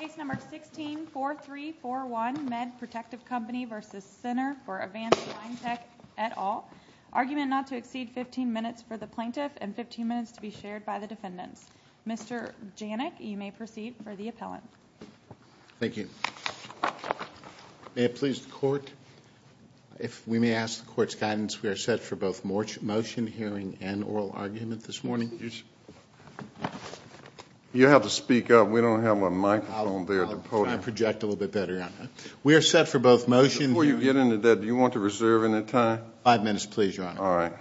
Case number 164341 Med Protective Company v. Center for Advanced Spine Tech et al. Argument not to exceed 15 minutes for the plaintiff and 15 minutes to be shared by the defendants. Mr. Janik, you may proceed for the appellant. Thank you. May it please the Court, if we may ask the Court's guidance. We are set for both motion, hearing, and oral argument this morning. You have to speak up. We don't have a microphone there at the podium. I'll project a little bit better. We are set for both motions. Before you get into that, do you want to reserve any time? Five minutes, please, Your Honor. All right.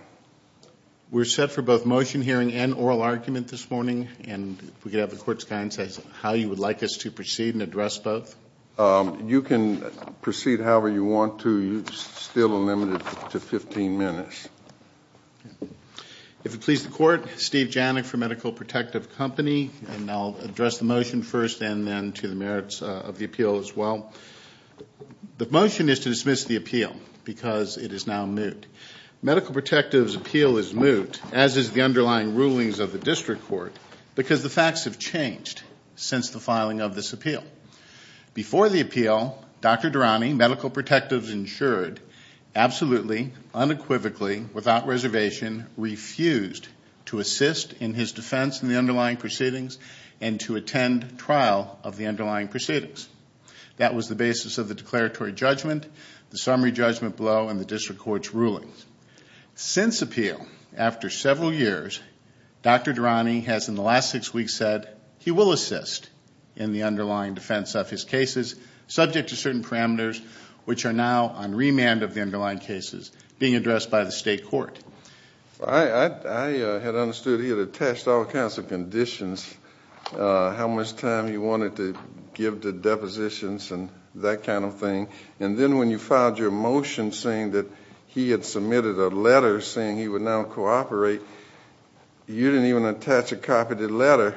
We're set for both motion, hearing, and oral argument this morning. And if we could have the Court's guidance as to how you would like us to proceed and address both. You can proceed however you want to. You're still limited to 15 minutes. If it please the Court, Steve Janik for Medical Protective Company, and I'll address the motion first and then to the merits of the appeal as well. The motion is to dismiss the appeal because it is now moot. Medical Protective's appeal is moot, as is the underlying rulings of the District Court, because the facts have changed since the filing of this appeal. Before the appeal, Dr. Durrani, Medical Protective's insured, absolutely, unequivocally, without reservation, refused to assist in his defense in the underlying proceedings and to attend trial of the underlying proceedings. That was the basis of the declaratory judgment, the summary judgment below, and the District Court's rulings. Since appeal, after several years, Dr. Durrani has in the last six weeks said that he will assist in the underlying defense of his cases, subject to certain parameters, which are now on remand of the underlying cases being addressed by the State Court. I had understood he had attached all kinds of conditions, how much time he wanted to give to depositions and that kind of thing, and then when you filed your motion saying that he had submitted a letter saying he would now cooperate, you didn't even attach a copy of the letter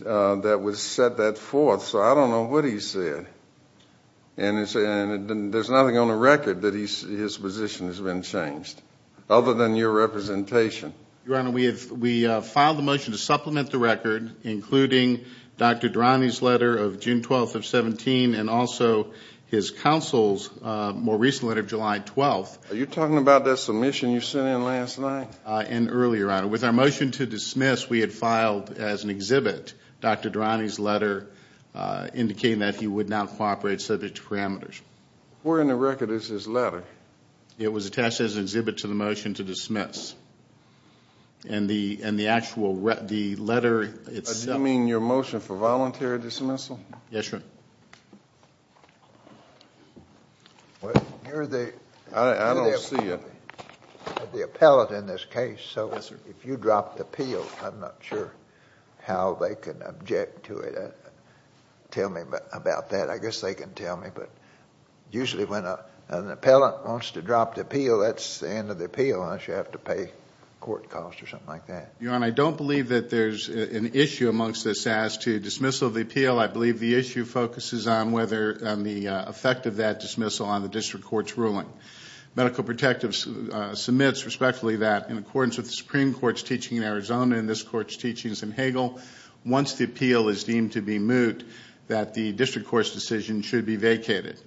that would set that forth. So I don't know what he said. And there's nothing on the record that his position has been changed, other than your representation. Your Honor, we have filed a motion to supplement the record, including Dr. Durrani's letter of June 12th of 2017 and also his counsel's more recent letter of July 12th. Are you talking about that submission you sent in last night? And earlier, Your Honor. With our motion to dismiss, we had filed as an exhibit Dr. Durrani's letter, indicating that he would now cooperate subject to parameters. Where in the record is his letter? It was attached as an exhibit to the motion to dismiss. And the actual letter itself. Does that mean your motion for voluntary dismissal? Yes, Your Honor. Well, you're the appellate in this case. So if you drop the appeal, I'm not sure how they can object to it. Tell me about that. I guess they can tell me. But usually when an appellate wants to drop the appeal, that's the end of the appeal, unless you have to pay court costs or something like that. Your Honor, I don't believe that there's an issue amongst this as to dismissal of the appeal. I believe the issue focuses on the effect of that dismissal on the district court's ruling. Medical Protective submits respectfully that, in accordance with the Supreme Court's teaching in Arizona and this court's teaching in San Hagel, once the appeal is deemed to be moot, that the district court's decision should be vacated.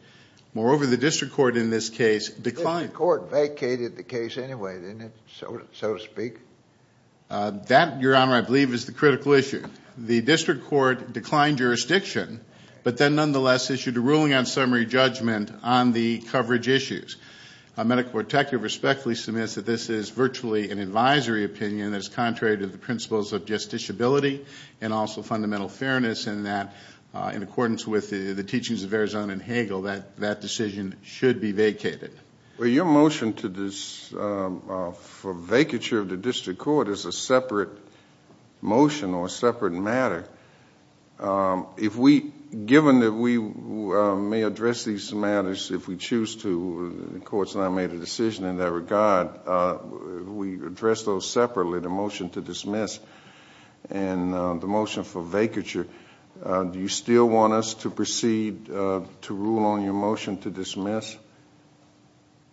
Moreover, the district court in this case declined. The district court vacated the case anyway, didn't it, so to speak? That, Your Honor, I believe is the critical issue. The district court declined jurisdiction, but then nonetheless issued a ruling on summary judgment on the coverage issues. Medical Protective respectfully submits that this is virtually an advisory opinion that is contrary to the principles of justiciability and also fundamental fairness, and that, in accordance with the teachings of Arizona and Hagel, that decision should be vacated. Well, your motion for vacature of the district court is a separate motion or a separate matter. Given that we may address these matters if we choose to, the courts have not made a decision in that regard, we address those separately, the motion to dismiss and the motion for vacature. Do you still want us to proceed to rule on your motion to dismiss?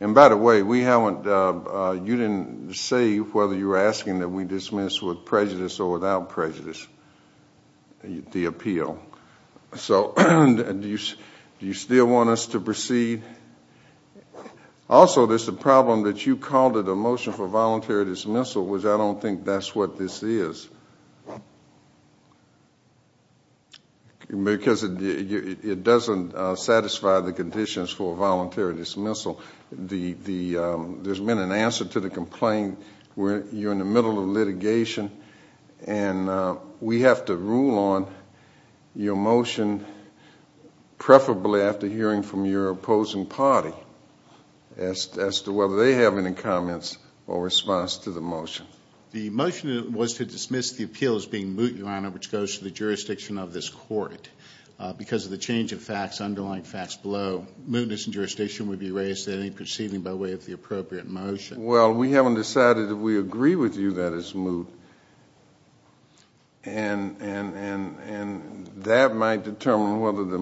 By the way, you didn't say whether you were asking that we dismiss with prejudice or without prejudice the appeal. Do you still want us to proceed? Also, there's the problem that you called it a motion for voluntary dismissal, which I don't think that's what this is, because it doesn't satisfy the conditions for voluntary dismissal. There's been an answer to the complaint. You're in the middle of litigation, and we have to rule on your motion, preferably after hearing from your opposing party as to whether they have any comments or response to the motion. The motion was to dismiss the appeal as being moot, Your Honor, which goes to the jurisdiction of this court. Because of the change of facts, underlying facts below, mootness in jurisdiction would be raised in any proceeding by way of the appropriate motion. Well, we haven't decided if we agree with you that it's moot, and that might determine whether the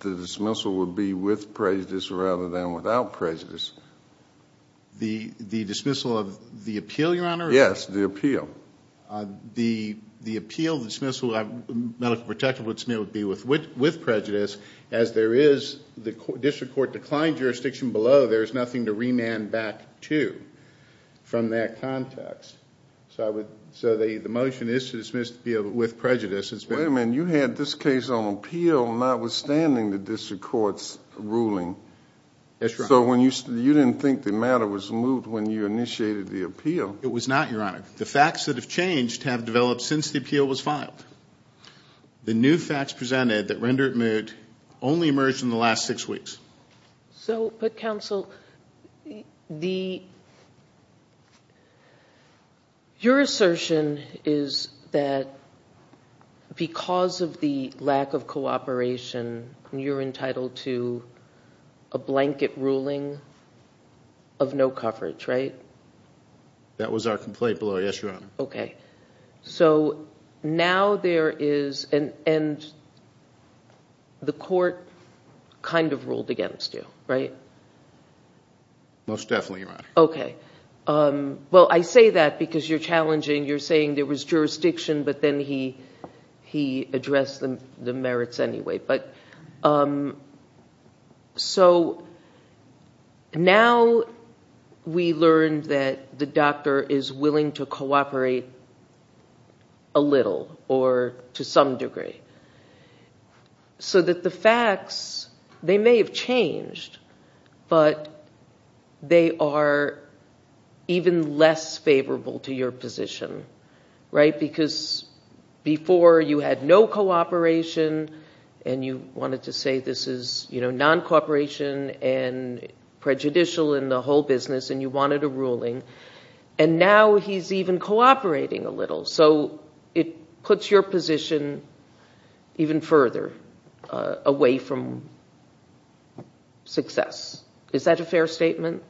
dismissal would be with prejudice rather than without prejudice. The dismissal of the appeal, Your Honor? Yes, the appeal. The appeal, the dismissal, medical protection would be with prejudice, as there is the district court declined jurisdiction below, there's nothing to remand back to from that context. So the motion is to dismiss the appeal with prejudice. Wait a minute. You had this case on appeal notwithstanding the district court's ruling. That's right. So you didn't think the matter was moot when you initiated the appeal? It was not, Your Honor. The facts that have changed have developed since the appeal was filed. The new facts presented that render it moot only emerged in the last six weeks. But, counsel, your assertion is that because of the lack of cooperation, you're entitled to a blanket ruling of no coverage, right? That was our complaint below, yes, Your Honor. Okay. So now there is an end. The court kind of ruled against you, right? Most definitely, Your Honor. Okay. Well, I say that because you're challenging, you're saying there was jurisdiction, but then he addressed the merits anyway. So now we learn that the doctor is willing to cooperate a little, or to some degree, so that the facts, they may have changed, but they are even less favorable to your position, right? Because before you had no cooperation and you wanted to say this is non-cooperation and prejudicial in the whole business and you wanted a ruling, and now he's even cooperating a little. So it puts your position even further away from success. Is that a fair statement?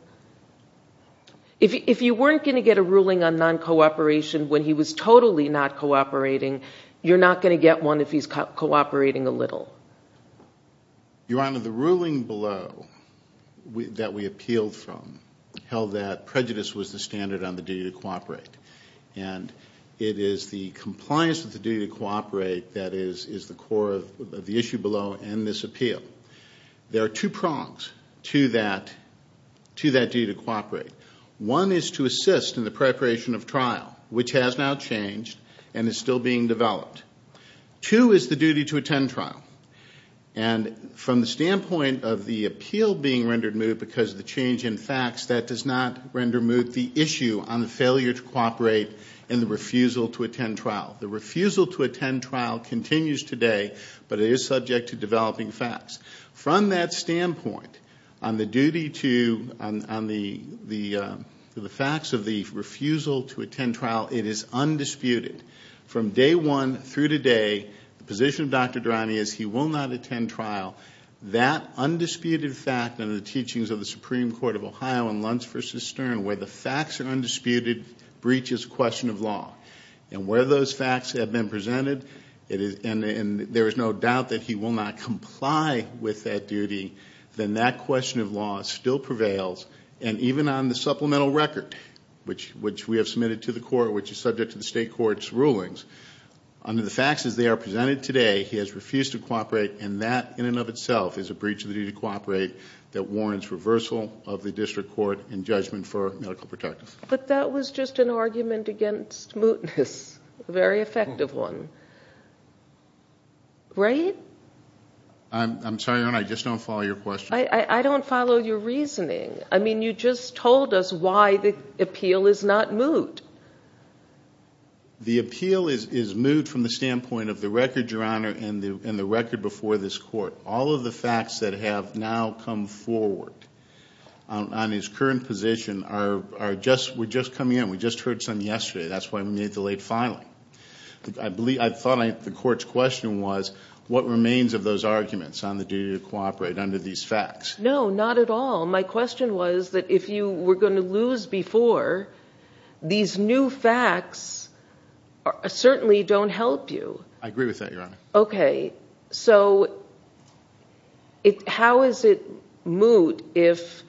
If you weren't going to get a ruling on non-cooperation when he was totally not cooperating, you're not going to get one if he's cooperating a little. Your Honor, the ruling below that we appealed from held that prejudice was the standard on the duty to cooperate, and it is the compliance with the duty to cooperate that is the core of the issue below in this appeal. There are two prongs to that duty to cooperate. One is to assist in the preparation of trial, which has now changed and is still being developed. Two is the duty to attend trial. And from the standpoint of the appeal being rendered moot because of the change in facts, that does not render moot the issue on the failure to cooperate and the refusal to attend trial. The refusal to attend trial continues today, but it is subject to developing facts. From that standpoint, on the facts of the refusal to attend trial, it is undisputed. From day one through today, the position of Dr. Durante is he will not attend trial. That undisputed fact under the teachings of the Supreme Court of Ohio in Luntz v. Stern, where the facts are undisputed, breaches question of law. And where those facts have been presented, and there is no doubt that he will not comply with that duty, then that question of law still prevails. And even on the supplemental record, which we have submitted to the court, which is subject to the state court's rulings, under the facts as they are presented today, he has refused to cooperate, and that in and of itself is a breach of the duty to cooperate that warrants reversal of the district court in judgment for medical protectors. But that was just an argument against mootness, a very effective one, right? I'm sorry, Your Honor, I just don't follow your question. I don't follow your reasoning. I mean, you just told us why the appeal is not moot. The appeal is moot from the standpoint of the record, Your Honor, and the record before this court. All of the facts that have now come forward on his current position are just coming in. We just heard some yesterday. That's why we made the late filing. I thought the court's question was what remains of those arguments on the duty to cooperate under these facts. No, not at all. My question was that if you were going to lose before, these new facts certainly don't help you. I agree with that, Your Honor. Okay, so how is it moot if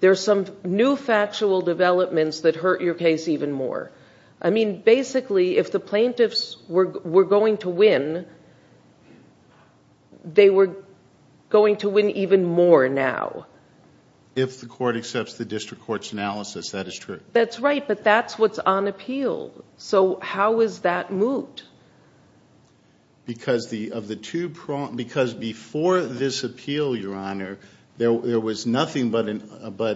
there are some new factual developments that hurt your case even more? I mean, basically, if the plaintiffs were going to win, they were going to win even more now. If the court accepts the district court's analysis, that is true. That's right, but that's what's on appeal. So how is that moot? Because before this appeal, Your Honor, there was nothing but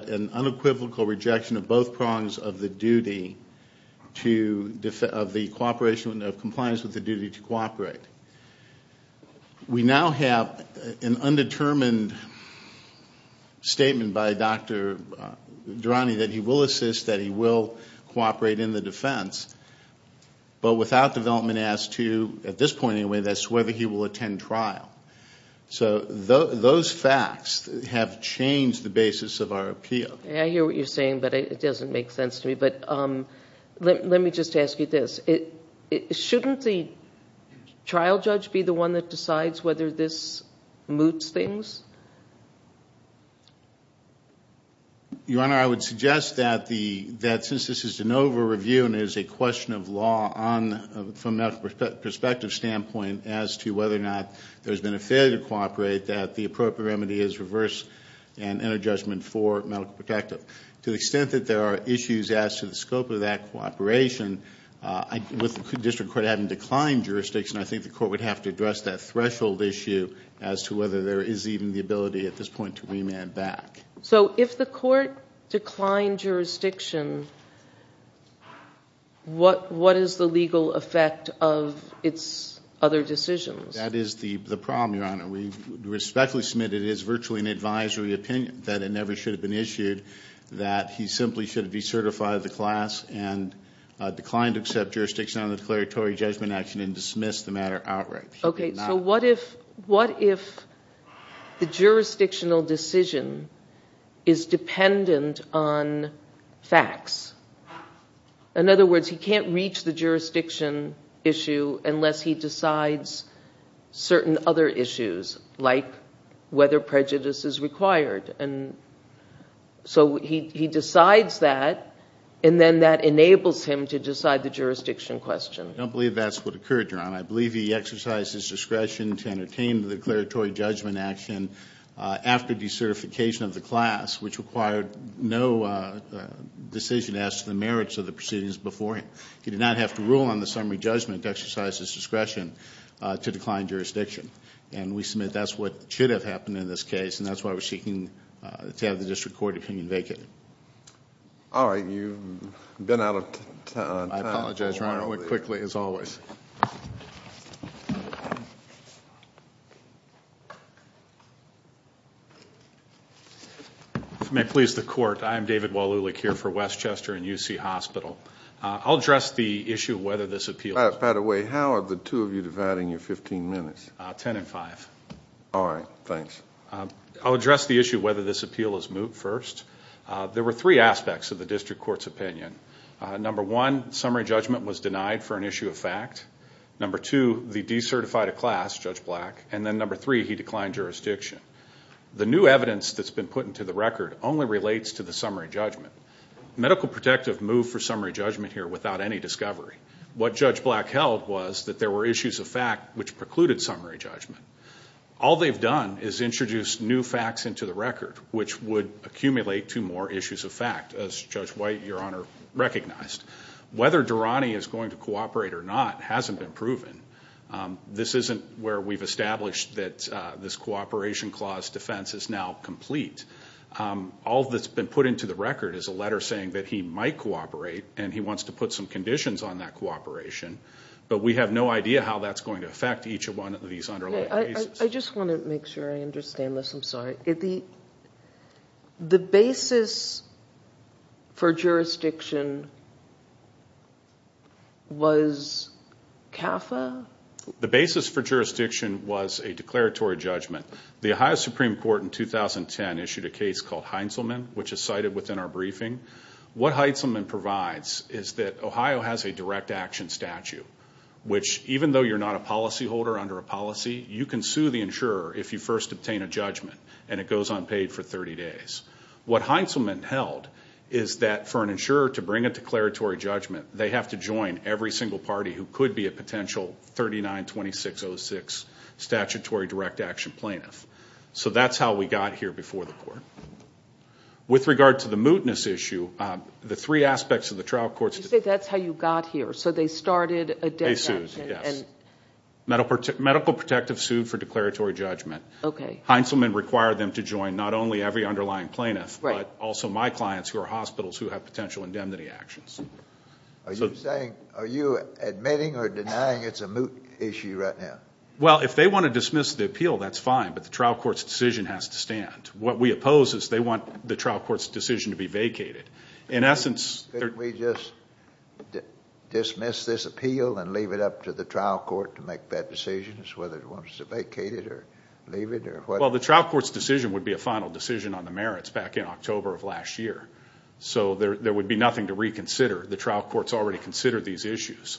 an unequivocal rejection of both prongs of the duty, of the cooperation of compliance with the duty to cooperate. We now have an undetermined statement by Dr. Durrani that he will assist, that he will cooperate in the defense, but without development as to, at this point anyway, as to whether he will attend trial. So those facts have changed the basis of our appeal. I hear what you're saying, but it doesn't make sense to me. But let me just ask you this. Shouldn't the trial judge be the one that decides whether this moots things? Your Honor, I would suggest that since this is an over-review and it is a question of law from a medical perspective standpoint as to whether or not there has been a failure to cooperate, that the appropriate remedy is reverse and inter-judgment for medical protective. To the extent that there are issues as to the scope of that cooperation, with the district court having declined jurisdiction, I think the court would have to address that threshold issue as to whether there is even the ability at this point to remand back. So if the court declined jurisdiction, what is the legal effect of its other decisions? That is the problem, Your Honor. We respectfully submit that it is virtually an advisory opinion, that it never should have been issued, that he simply should have decertified the class and declined to accept jurisdiction on the declaratory judgment action and dismissed the matter outright. Okay. So what if the jurisdictional decision is dependent on facts? In other words, he can't reach the jurisdiction issue unless he decides certain other issues, like whether prejudice is required. And so he decides that, and then that enables him to decide the jurisdiction question. I believe he exercised his discretion to entertain the declaratory judgment action after decertification of the class, which required no decision as to the merits of the proceedings before him. He did not have to rule on the summary judgment to exercise his discretion to decline jurisdiction. And we submit that's what should have happened in this case, and that's why we're seeking to have the district court opinion vacated. All right. You've been out of time. I apologize, Your Honor. That went quickly, as always. If you may please the court, I am David Walulik here for Westchester and UC Hospital. I'll address the issue of whether this appeal is moot. By the way, how are the two of you dividing your 15 minutes? Ten and five. All right. Thanks. I'll address the issue of whether this appeal is moot first. There were three aspects of the district court's opinion. Number one, summary judgment was denied for an issue of fact. Number two, they decertified a class, Judge Black. And then number three, he declined jurisdiction. The new evidence that's been put into the record only relates to the summary judgment. Medical protective moved for summary judgment here without any discovery. What Judge Black held was that there were issues of fact which precluded summary judgment. All they've done is introduced new facts into the record, which would accumulate to more issues of fact, as Judge White, Your Honor, recognized. Whether Durrani is going to cooperate or not hasn't been proven. This isn't where we've established that this cooperation clause defense is now complete. All that's been put into the record is a letter saying that he might cooperate and he wants to put some conditions on that cooperation, but we have no idea how that's going to affect each one of these underlying cases. I just want to make sure I understand this. I'm sorry. The basis for jurisdiction was CAFA? The basis for jurisdiction was a declaratory judgment. The Ohio Supreme Court in 2010 issued a case called Heintzelman, which is cited within our briefing. What Heintzelman provides is that Ohio has a direct action statute, which even though you're not a policyholder under a policy, you can sue the insurer if you first obtain a judgment and it goes unpaid for 30 days. What Heintzelman held is that for an insurer to bring a declaratory judgment, they have to join every single party who could be a potential 39-2606 statutory direct action plaintiff. So that's how we got here before the court. With regard to the mootness issue, the three aspects of the trial courts. You say that's how you got here. So they started a death sentence. Medical protectives sued for declaratory judgment. Heintzelman required them to join not only every underlying plaintiff, but also my clients who are hospitals who have potential indemnity actions. Are you admitting or denying it's a moot issue right now? Well, if they want to dismiss the appeal, that's fine, but the trial court's decision has to stand. What we oppose is they want the trial court's decision to be vacated. Couldn't we just dismiss this appeal and leave it up to the trial court to make bad decisions, whether it wants to vacate it or leave it or what? Well, the trial court's decision would be a final decision on the merits back in October of last year. So there would be nothing to reconsider. The trial courts already considered these issues.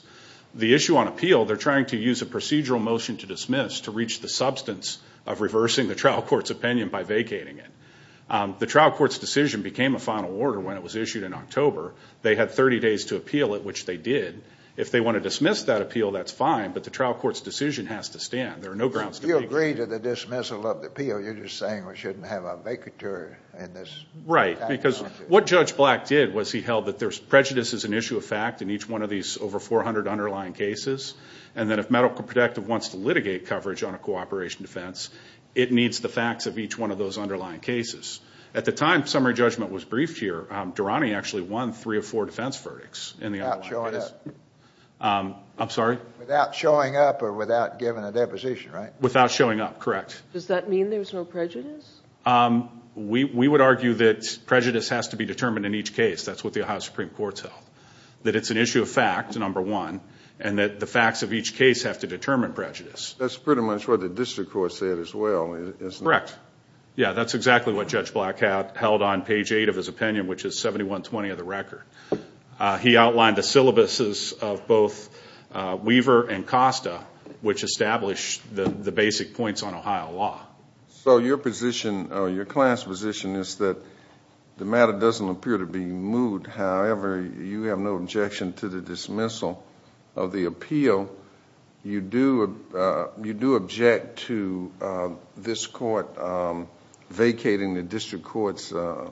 The issue on appeal, they're trying to use a procedural motion to dismiss to reach the substance of reversing the trial court's opinion by vacating it. The trial court's decision became a final order when it was issued in October. They had 30 days to appeal it, which they did. If they want to dismiss that appeal, that's fine, but the trial court's decision has to stand. There are no grounds to make it. You agreed to the dismissal of the appeal. You're just saying we shouldn't have a vacature in this. Right, because what Judge Black did was he held that there's prejudice as an issue of fact in each one of these over 400 underlying cases, and that if medical protective wants to litigate coverage on a cooperation defense, it needs the facts of each one of those underlying cases. At the time summary judgment was briefed here, Durrani actually won three or four defense verdicts. Without showing up. I'm sorry? Without showing up or without giving a deposition, right? Without showing up, correct. Does that mean there's no prejudice? We would argue that prejudice has to be determined in each case. That's what the Ohio Supreme Court's held, that it's an issue of fact, number one, and that the facts of each case have to determine prejudice. That's pretty much what the district court said as well, isn't it? Correct. Yeah, that's exactly what Judge Black held on page eight of his opinion, which is 7120 of the record. He outlined the syllabuses of both Weaver and Costa, which established the basic points on Ohio law. So your position, your class position, is that the matter doesn't appear to be moved. However, you have no objection to the dismissal of the appeal. You do object to this court vacating the district court's order.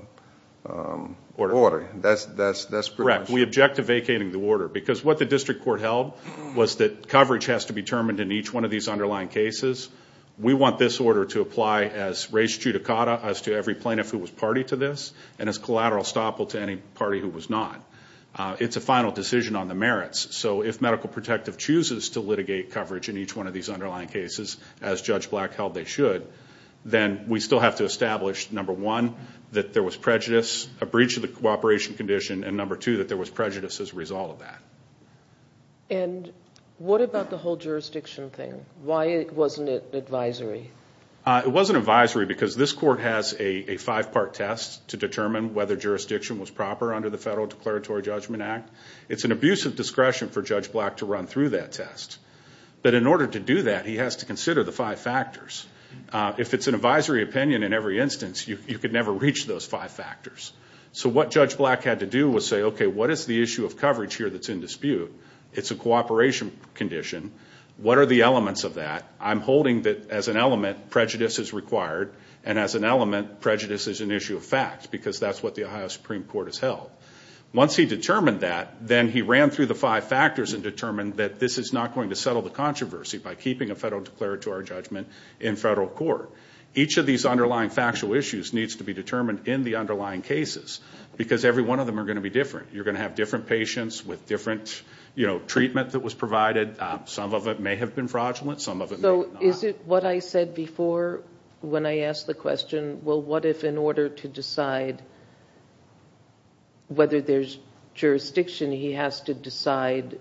That's correct. We object to vacating the order because what the district court held was that coverage has to be determined in each one of these underlying cases. We want this order to apply as res judicata as to every plaintiff who was party to this and as collateral estoppel to any party who was not. It's a final decision on the merits. So if Medical Protective chooses to litigate coverage in each one of these underlying cases, as Judge Black held they should, then we still have to establish, number one, that there was prejudice, a breach of the cooperation condition, and number two, that there was prejudice as a result of that. And what about the whole jurisdiction thing? Why wasn't it advisory? It wasn't advisory because this court has a five-part test to determine whether jurisdiction was proper under the Federal Declaratory Judgment Act. It's an abuse of discretion for Judge Black to run through that test. But in order to do that, he has to consider the five factors. If it's an advisory opinion in every instance, you could never reach those five factors. So what Judge Black had to do was say, okay, what is the issue of coverage here that's in dispute? It's a cooperation condition. What are the elements of that? I'm holding that as an element, prejudice is required, and as an element, prejudice is an issue of fact because that's what the Ohio Supreme Court has held. Once he determined that, then he ran through the five factors and determined that this is not going to settle the controversy by keeping a federal declaratory judgment in federal court. Each of these underlying factual issues needs to be determined in the underlying cases because every one of them are going to be different. You're going to have different patients with different treatment that was provided. Some of it may have been fraudulent, some of it may not. Is it what I said before when I asked the question, well, what if in order to decide whether there's jurisdiction, he has to decide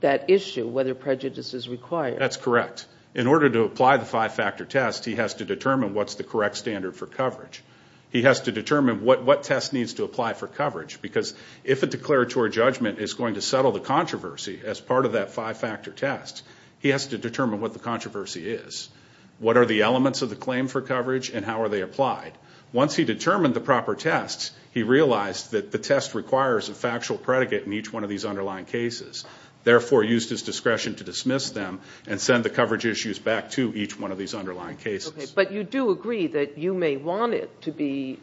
that issue, whether prejudice is required? That's correct. In order to apply the five-factor test, he has to determine what's the correct standard for coverage. He has to determine what test needs to apply for coverage because if a declaratory judgment is going to settle the controversy as part of that five-factor test, he has to determine what the controversy is. What are the elements of the claim for coverage and how are they applied? Once he determined the proper tests, he realized that the test requires a factual predicate in each one of these underlying cases, therefore used his discretion to dismiss them and send the coverage issues back to each one of these underlying cases. But you do agree that you may want it to be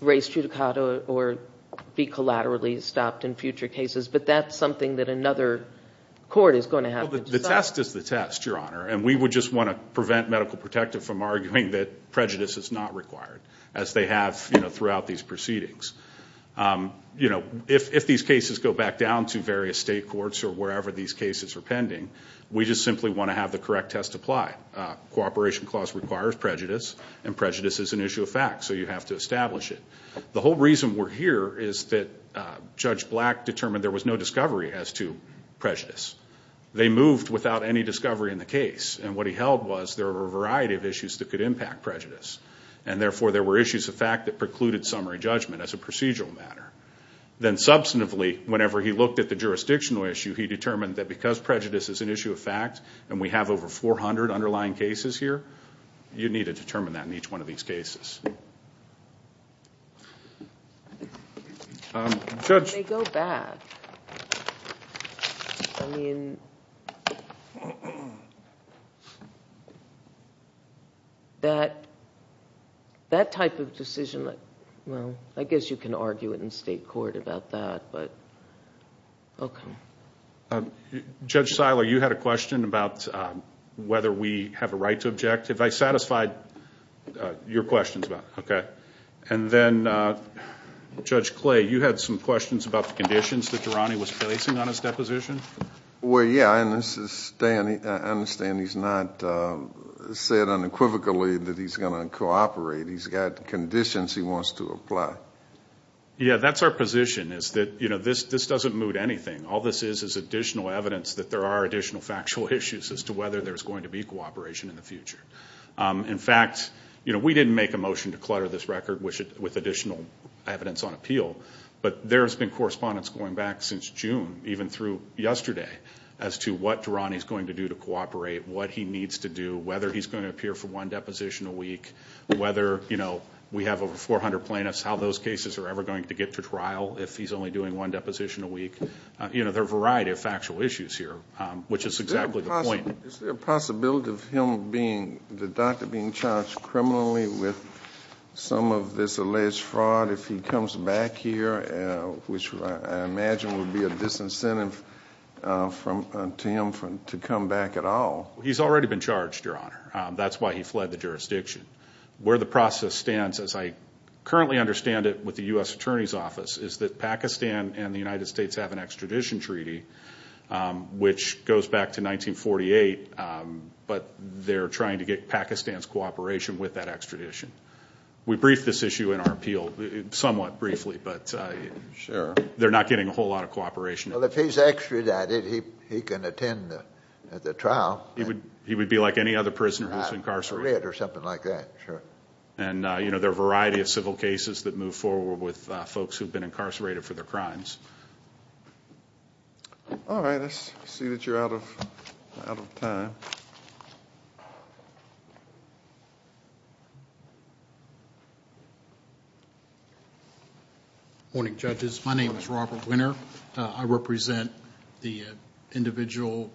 raised judicata or be collaterally stopped in future cases, but that's something that another court is going to have to decide. The test is the test, Your Honor, and we would just want to prevent Medical Protective from arguing that prejudice is not required, as they have throughout these proceedings. If these cases go back down to various state courts or wherever these cases are pending, we just simply want to have the correct test applied. Cooperation clause requires prejudice, and prejudice is an issue of fact, so you have to establish it. The whole reason we're here is that Judge Black determined there was no discovery as to prejudice. They moved without any discovery in the case, and what he held was there were a variety of issues that could impact prejudice, and therefore there were issues of fact that precluded summary judgment as a procedural matter. Then substantively, whenever he looked at the jurisdictional issue, he determined that because prejudice is an issue of fact and we have over 400 underlying cases here, you need to determine that in each one of these cases. When they go back, I mean, that type of decision, well, I guess you can argue it in state court about that, but okay. Judge Seiler, you had a question about whether we have a right to object. Have I satisfied your questions about that? Okay. And then, Judge Clay, you had some questions about the conditions that Durrani was placing on his deposition? Well, yeah, and I understand he's not said unequivocally that he's going to cooperate. He's got conditions he wants to apply. Yeah, that's our position, is that this doesn't mood anything. All this is is additional evidence that there are additional factual issues as to whether there's going to be cooperation in the future. In fact, we didn't make a motion to clutter this record with additional evidence on appeal, but there's been correspondence going back since June, even through yesterday, as to what Durrani's going to do to cooperate, what he needs to do, whether he's going to appear for one deposition a week, whether we have over 400 plaintiffs, how those cases are ever going to get to trial if he's only doing one deposition a week. There are a variety of factual issues here, which is exactly the point. Is there a possibility of him being, the doctor, being charged criminally with some of this alleged fraud if he comes back here, which I imagine would be a disincentive to him to come back at all? He's already been charged, Your Honor. That's why he fled the jurisdiction. Where the process stands, as I currently understand it with the U.S. Attorney's Office, is that Pakistan and the United States have an extradition treaty, which goes back to 1948, but they're trying to get Pakistan's cooperation with that extradition. We briefed this issue in our appeal somewhat briefly, but they're not getting a whole lot of cooperation. Well, if he's extradited, he can attend the trial. He would be like any other prisoner who's incarcerated. Extradited or something like that, sure. There are a variety of civil cases that move forward with folks who've been incarcerated for their crimes. All right. Let's see that you're out of time. Morning, judges. My name is Robert Winner. I represent the individual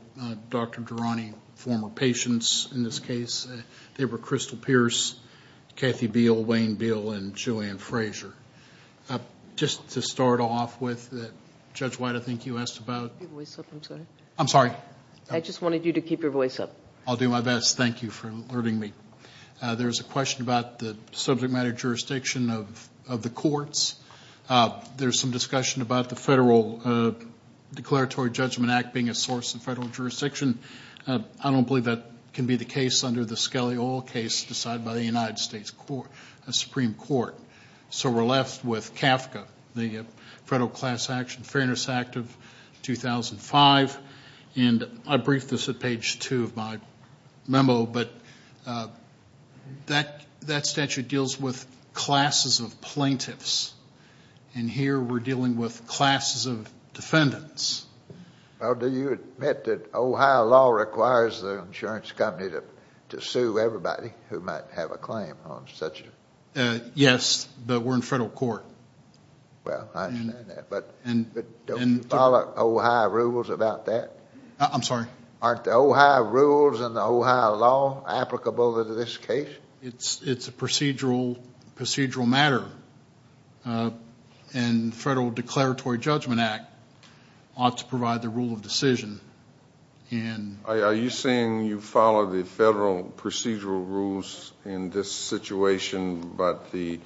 Dr. Durrani, former patients in this case. They were Crystal Pierce, Kathy Beal, Wayne Beal, and Joanne Frazier. Just to start off with, Judge White, I think you asked about? Keep your voice up, I'm sorry. I'm sorry. I just wanted you to keep your voice up. I'll do my best. Thank you for alerting me. There's a question about the subject matter jurisdiction of the courts. There's some discussion about the Federal Declaratory Judgment Act being a source in federal jurisdiction. I don't believe that can be the case under the Skelly Oil case decided by the United States Supreme Court. So we're left with CAFCA, the Federal Class Action Fairness Act of 2005. And I briefed this at page two of my memo, but that statute deals with classes of plaintiffs. And here we're dealing with classes of defendants. Well, do you admit that Ohio law requires the insurance company to sue everybody who might have a claim on such a? Yes, but we're in federal court. Well, I understand that. But don't you follow Ohio rules about that? I'm sorry? Aren't the Ohio rules and the Ohio law applicable under this case? It's a procedural matter. And the Federal Declaratory Judgment Act ought to provide the rule of decision. Are you saying you follow the federal procedural rules in this situation, but the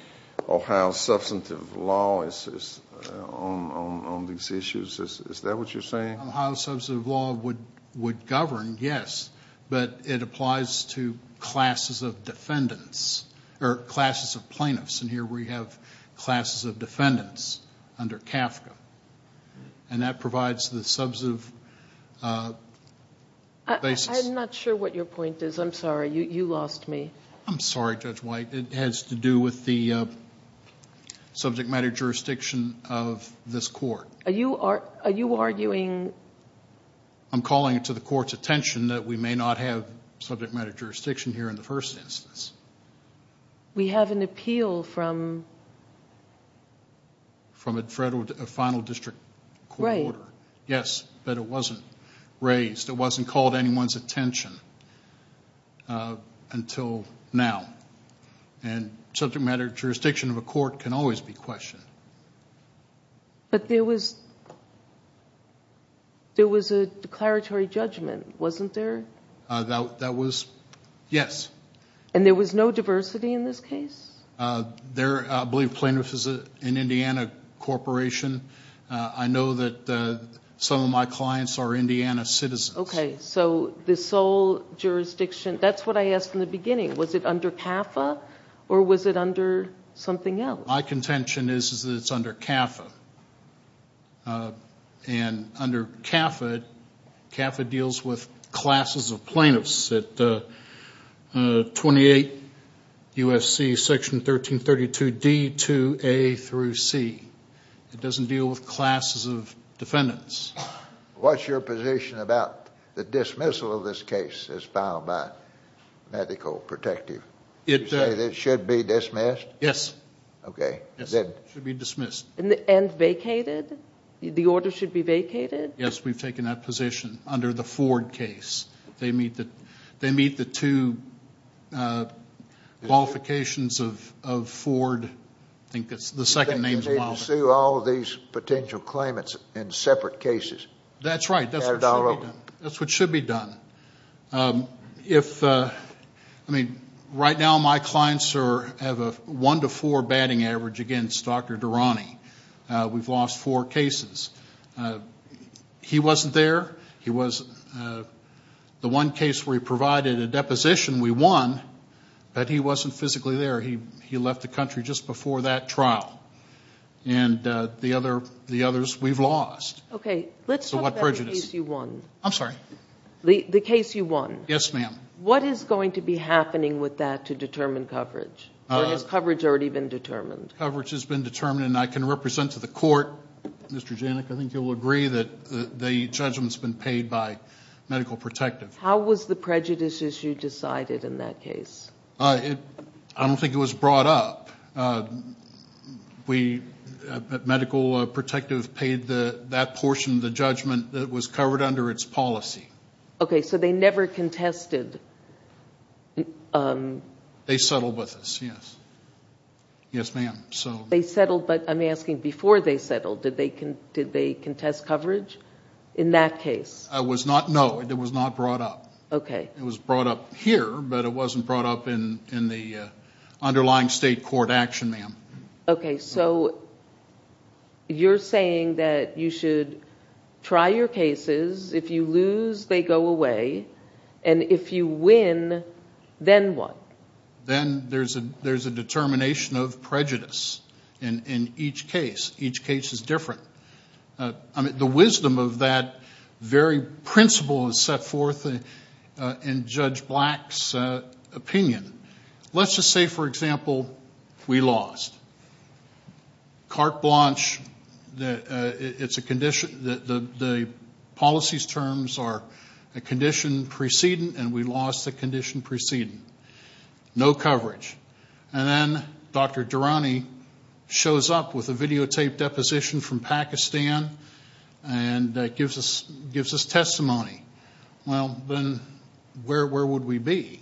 Ohio substantive law is on these issues? Is that what you're saying? Ohio substantive law would govern, yes. But it applies to classes of defendants or classes of plaintiffs. And here we have classes of defendants under CAFCA. And that provides the substantive basis. I'm not sure what your point is. I'm sorry. You lost me. I'm sorry, Judge White. It has to do with the subject matter jurisdiction of this court. Are you arguing? I'm calling it to the court's attention that we may not have subject matter jurisdiction here in the first instance. We have an appeal from? From a final district court order. Right. Yes, but it wasn't raised. It wasn't called to anyone's attention until now. And subject matter jurisdiction of a court can always be questioned. But there was a declaratory judgment, wasn't there? That was, yes. And there was no diversity in this case? I believe plaintiff is an Indiana corporation. I know that some of my clients are Indiana citizens. Okay, so the sole jurisdiction, that's what I asked in the beginning. Was it under CAFCA or was it under something else? My contention is that it's under CAFCA. And under CAFCA, CAFCA deals with classes of plaintiffs at 28 U.S.C. Section 1332D to A through C. It doesn't deal with classes of defendants. What's your position about the dismissal of this case as filed by medical protective? You say that it should be dismissed? Yes. Okay. It should be dismissed. And vacated? The order should be vacated? Yes, we've taken that position under the Ford case. They meet the two qualifications of Ford. I think that's the second name. You think they can sue all of these potential claimants in separate cases? That's right. That's what should be done. That's what should be done. If, I mean, right now my clients have a one to four batting average against Dr. Durrani. We've lost four cases. He wasn't there. The one case where he provided a deposition, we won, but he wasn't physically there. He left the country just before that trial. And the others we've lost. Okay, let's talk about the case you won. I'm sorry? The case you won. Yes, ma'am. What is going to be happening with that to determine coverage? Has coverage already been determined? Coverage has been determined, and I can represent to the court, Mr. Janik, I think you'll agree that the judgment's been paid by Medical Protective. How was the prejudice issue decided in that case? I don't think it was brought up. Medical Protective paid that portion of the judgment that was covered under its policy. Okay, so they never contested. They settled with us, yes. Yes, ma'am. They settled, but I'm asking before they settled, did they contest coverage in that case? No, it was not brought up. It was brought up here, but it wasn't brought up in the underlying state court action, ma'am. Okay, so you're saying that you should try your cases. If you lose, they go away, and if you win, then what? Then there's a determination of prejudice in each case. Each case is different. The wisdom of that very principle is set forth in Judge Black's opinion. Let's just say, for example, we lost. Carte Blanche, the policy's terms are a condition precedent, and we lost the condition precedent. No coverage. And then Dr. Durrani shows up with a videotaped deposition from Pakistan and gives us testimony. Well, then where would we be?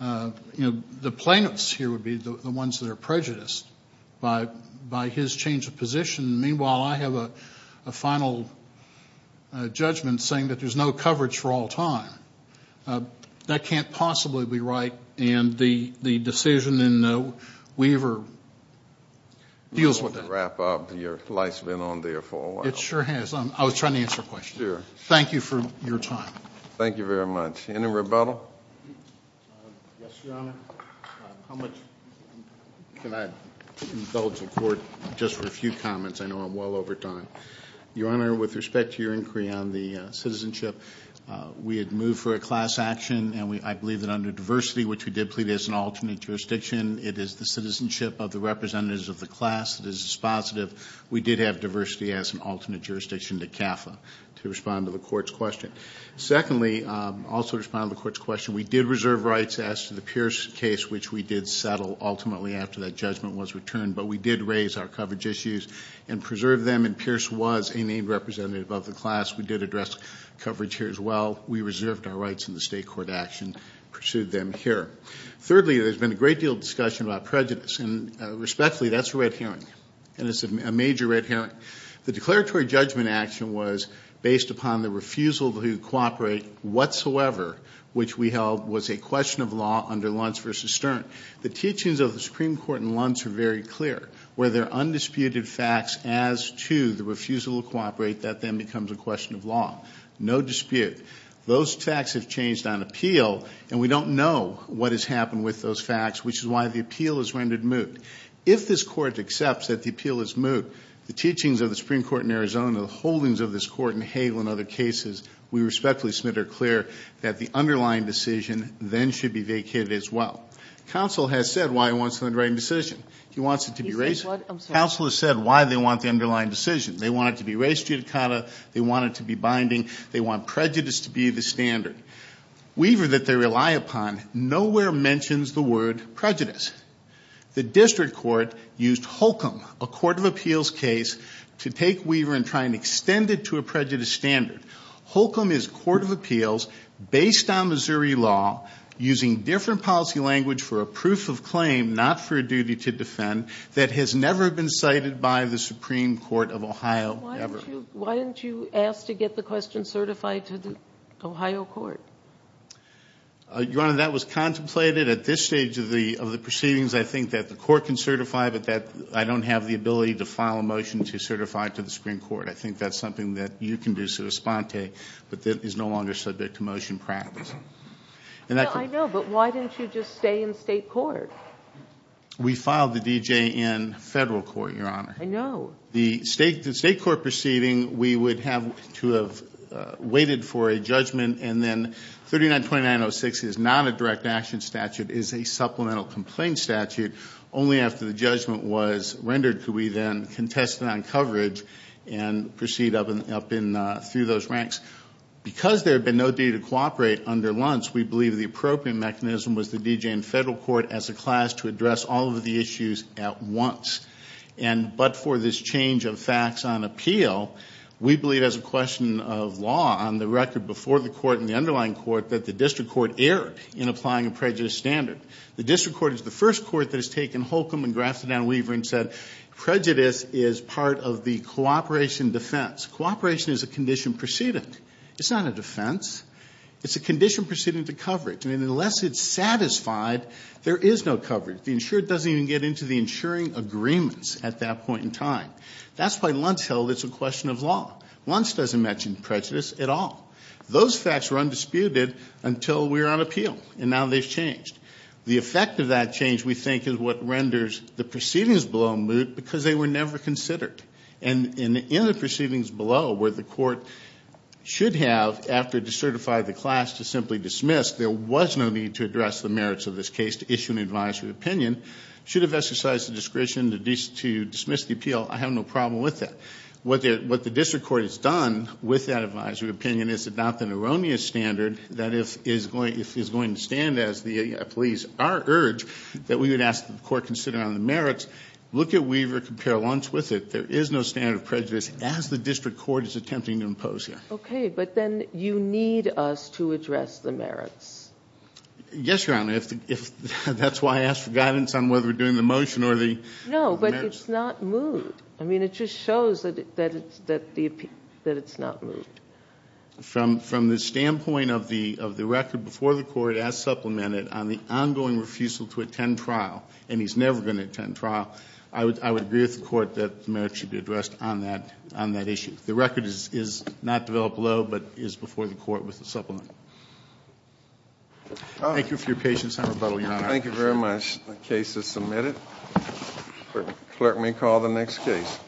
You know, the plaintiffs here would be the ones that are prejudiced by his change of position. Meanwhile, I have a final judgment saying that there's no coverage for all time. That can't possibly be right, and the decision in Weaver deals with that. I just want to wrap up. Your life's been on there for a while. It sure has. I was trying to answer a question. Thank you for your time. Thank you very much. Any rebuttal? Yes, Your Honor. How much can I indulge in court just for a few comments? I know I'm well over time. Your Honor, with respect to your inquiry on the citizenship, we had moved for a class action, and I believe that under diversity, which we did plead as an alternate jurisdiction, it is the citizenship of the representatives of the class that is dispositive. We did have diversity as an alternate jurisdiction to CAFA to respond to the court's question. Secondly, also to respond to the court's question, we did reserve rights as to the Pierce case, which we did settle ultimately after that judgment was returned, but we did raise our coverage issues and preserve them, and Pierce was a named representative of the class. We did address coverage here as well. We reserved our rights in the state court action and pursued them here. Thirdly, there's been a great deal of discussion about prejudice, and respectfully, that's a red herring. And it's a major red herring. The declaratory judgment action was based upon the refusal to cooperate whatsoever, which we held was a question of law under Luntz v. Stern. The teachings of the Supreme Court in Luntz are very clear, where there are undisputed facts as to the refusal to cooperate that then becomes a question of law. No dispute. Those facts have changed on appeal, and we don't know what has happened with those facts, which is why the appeal is rendered moot. If this Court accepts that the appeal is moot, the teachings of the Supreme Court in Arizona, the holdings of this Court in Hagel and other cases, we respectfully submit are clear that the underlying decision then should be vacated as well. Counsel has said why he wants the underlying decision. He wants it to be raised. He says what? I'm sorry. Counsel has said why they want the underlying decision. They want it to be raised judicata. They want it to be binding. They want prejudice to be the standard. Weaver, that they rely upon, nowhere mentions the word prejudice. The district court used Holcomb, a court of appeals case, to take Weaver and try and extend it to a prejudice standard. Holcomb is a court of appeals based on Missouri law, using different policy language for a proof of claim, not for a duty to defend that has never been cited by the Supreme Court of Ohio ever. Why didn't you ask to get the question certified to the Ohio court? Your Honor, that was contemplated. At this stage of the proceedings, I think that the court can certify, but that I don't have the ability to file a motion to certify it to the Supreme Court. I think that's something that you can do, Souspante, but that is no longer subject to motion practice. I know, but why didn't you just stay in state court? We filed the D.J. in federal court, Your Honor. I know. The state court proceeding, we would have to have waited for a judgment and then 3929.06 is not a direct action statute. It is a supplemental complaint statute. Only after the judgment was rendered could we then contest it on coverage and proceed up through those ranks. Because there had been no duty to cooperate under Luntz, we believe the appropriate mechanism was the D.J. in federal court as a class to address all of the issues at once. But for this change of facts on appeal, we believe as a question of law on the record before the court and the underlying court that the district court erred in applying a prejudice standard. The district court is the first court that has taken Holcomb and grafted down Weaver and said prejudice is part of the cooperation defense. Cooperation is a condition proceeding. It's not a defense. It's a condition proceeding to coverage. And unless it's satisfied, there is no coverage. That's why Luntz held it's a question of law. Luntz doesn't mention prejudice at all. Those facts were undisputed until we were on appeal, and now they've changed. The effect of that change, we think, is what renders the proceedings below moot because they were never considered. And in the proceedings below where the court should have, after it had certified the class to simply dismiss, there was no need to address the merits of this case to issue an advisory opinion, should have exercised the discretion to dismiss the appeal. I have no problem with that. What the district court has done with that advisory opinion is adopt an erroneous standard that if it's going to stand as the police are urged, that we would ask the court to consider on the merits, look at Weaver, compare Luntz with it. There is no standard of prejudice as the district court is attempting to impose here. Okay, but then you need us to address the merits. Yes, Your Honor. That's why I asked for guidance on whether we're doing the motion or the merits. No, but it's not moot. I mean, it just shows that it's not moot. From the standpoint of the record before the court as supplemented on the ongoing refusal to attend trial, and he's never going to attend trial, I would agree with the court that the merits should be addressed on that issue. The record is not developed below but is before the court with the supplement. Thank you for your patience. I'm rebuttal, Your Honor. Thank you very much. The case is submitted. The clerk may call the next case.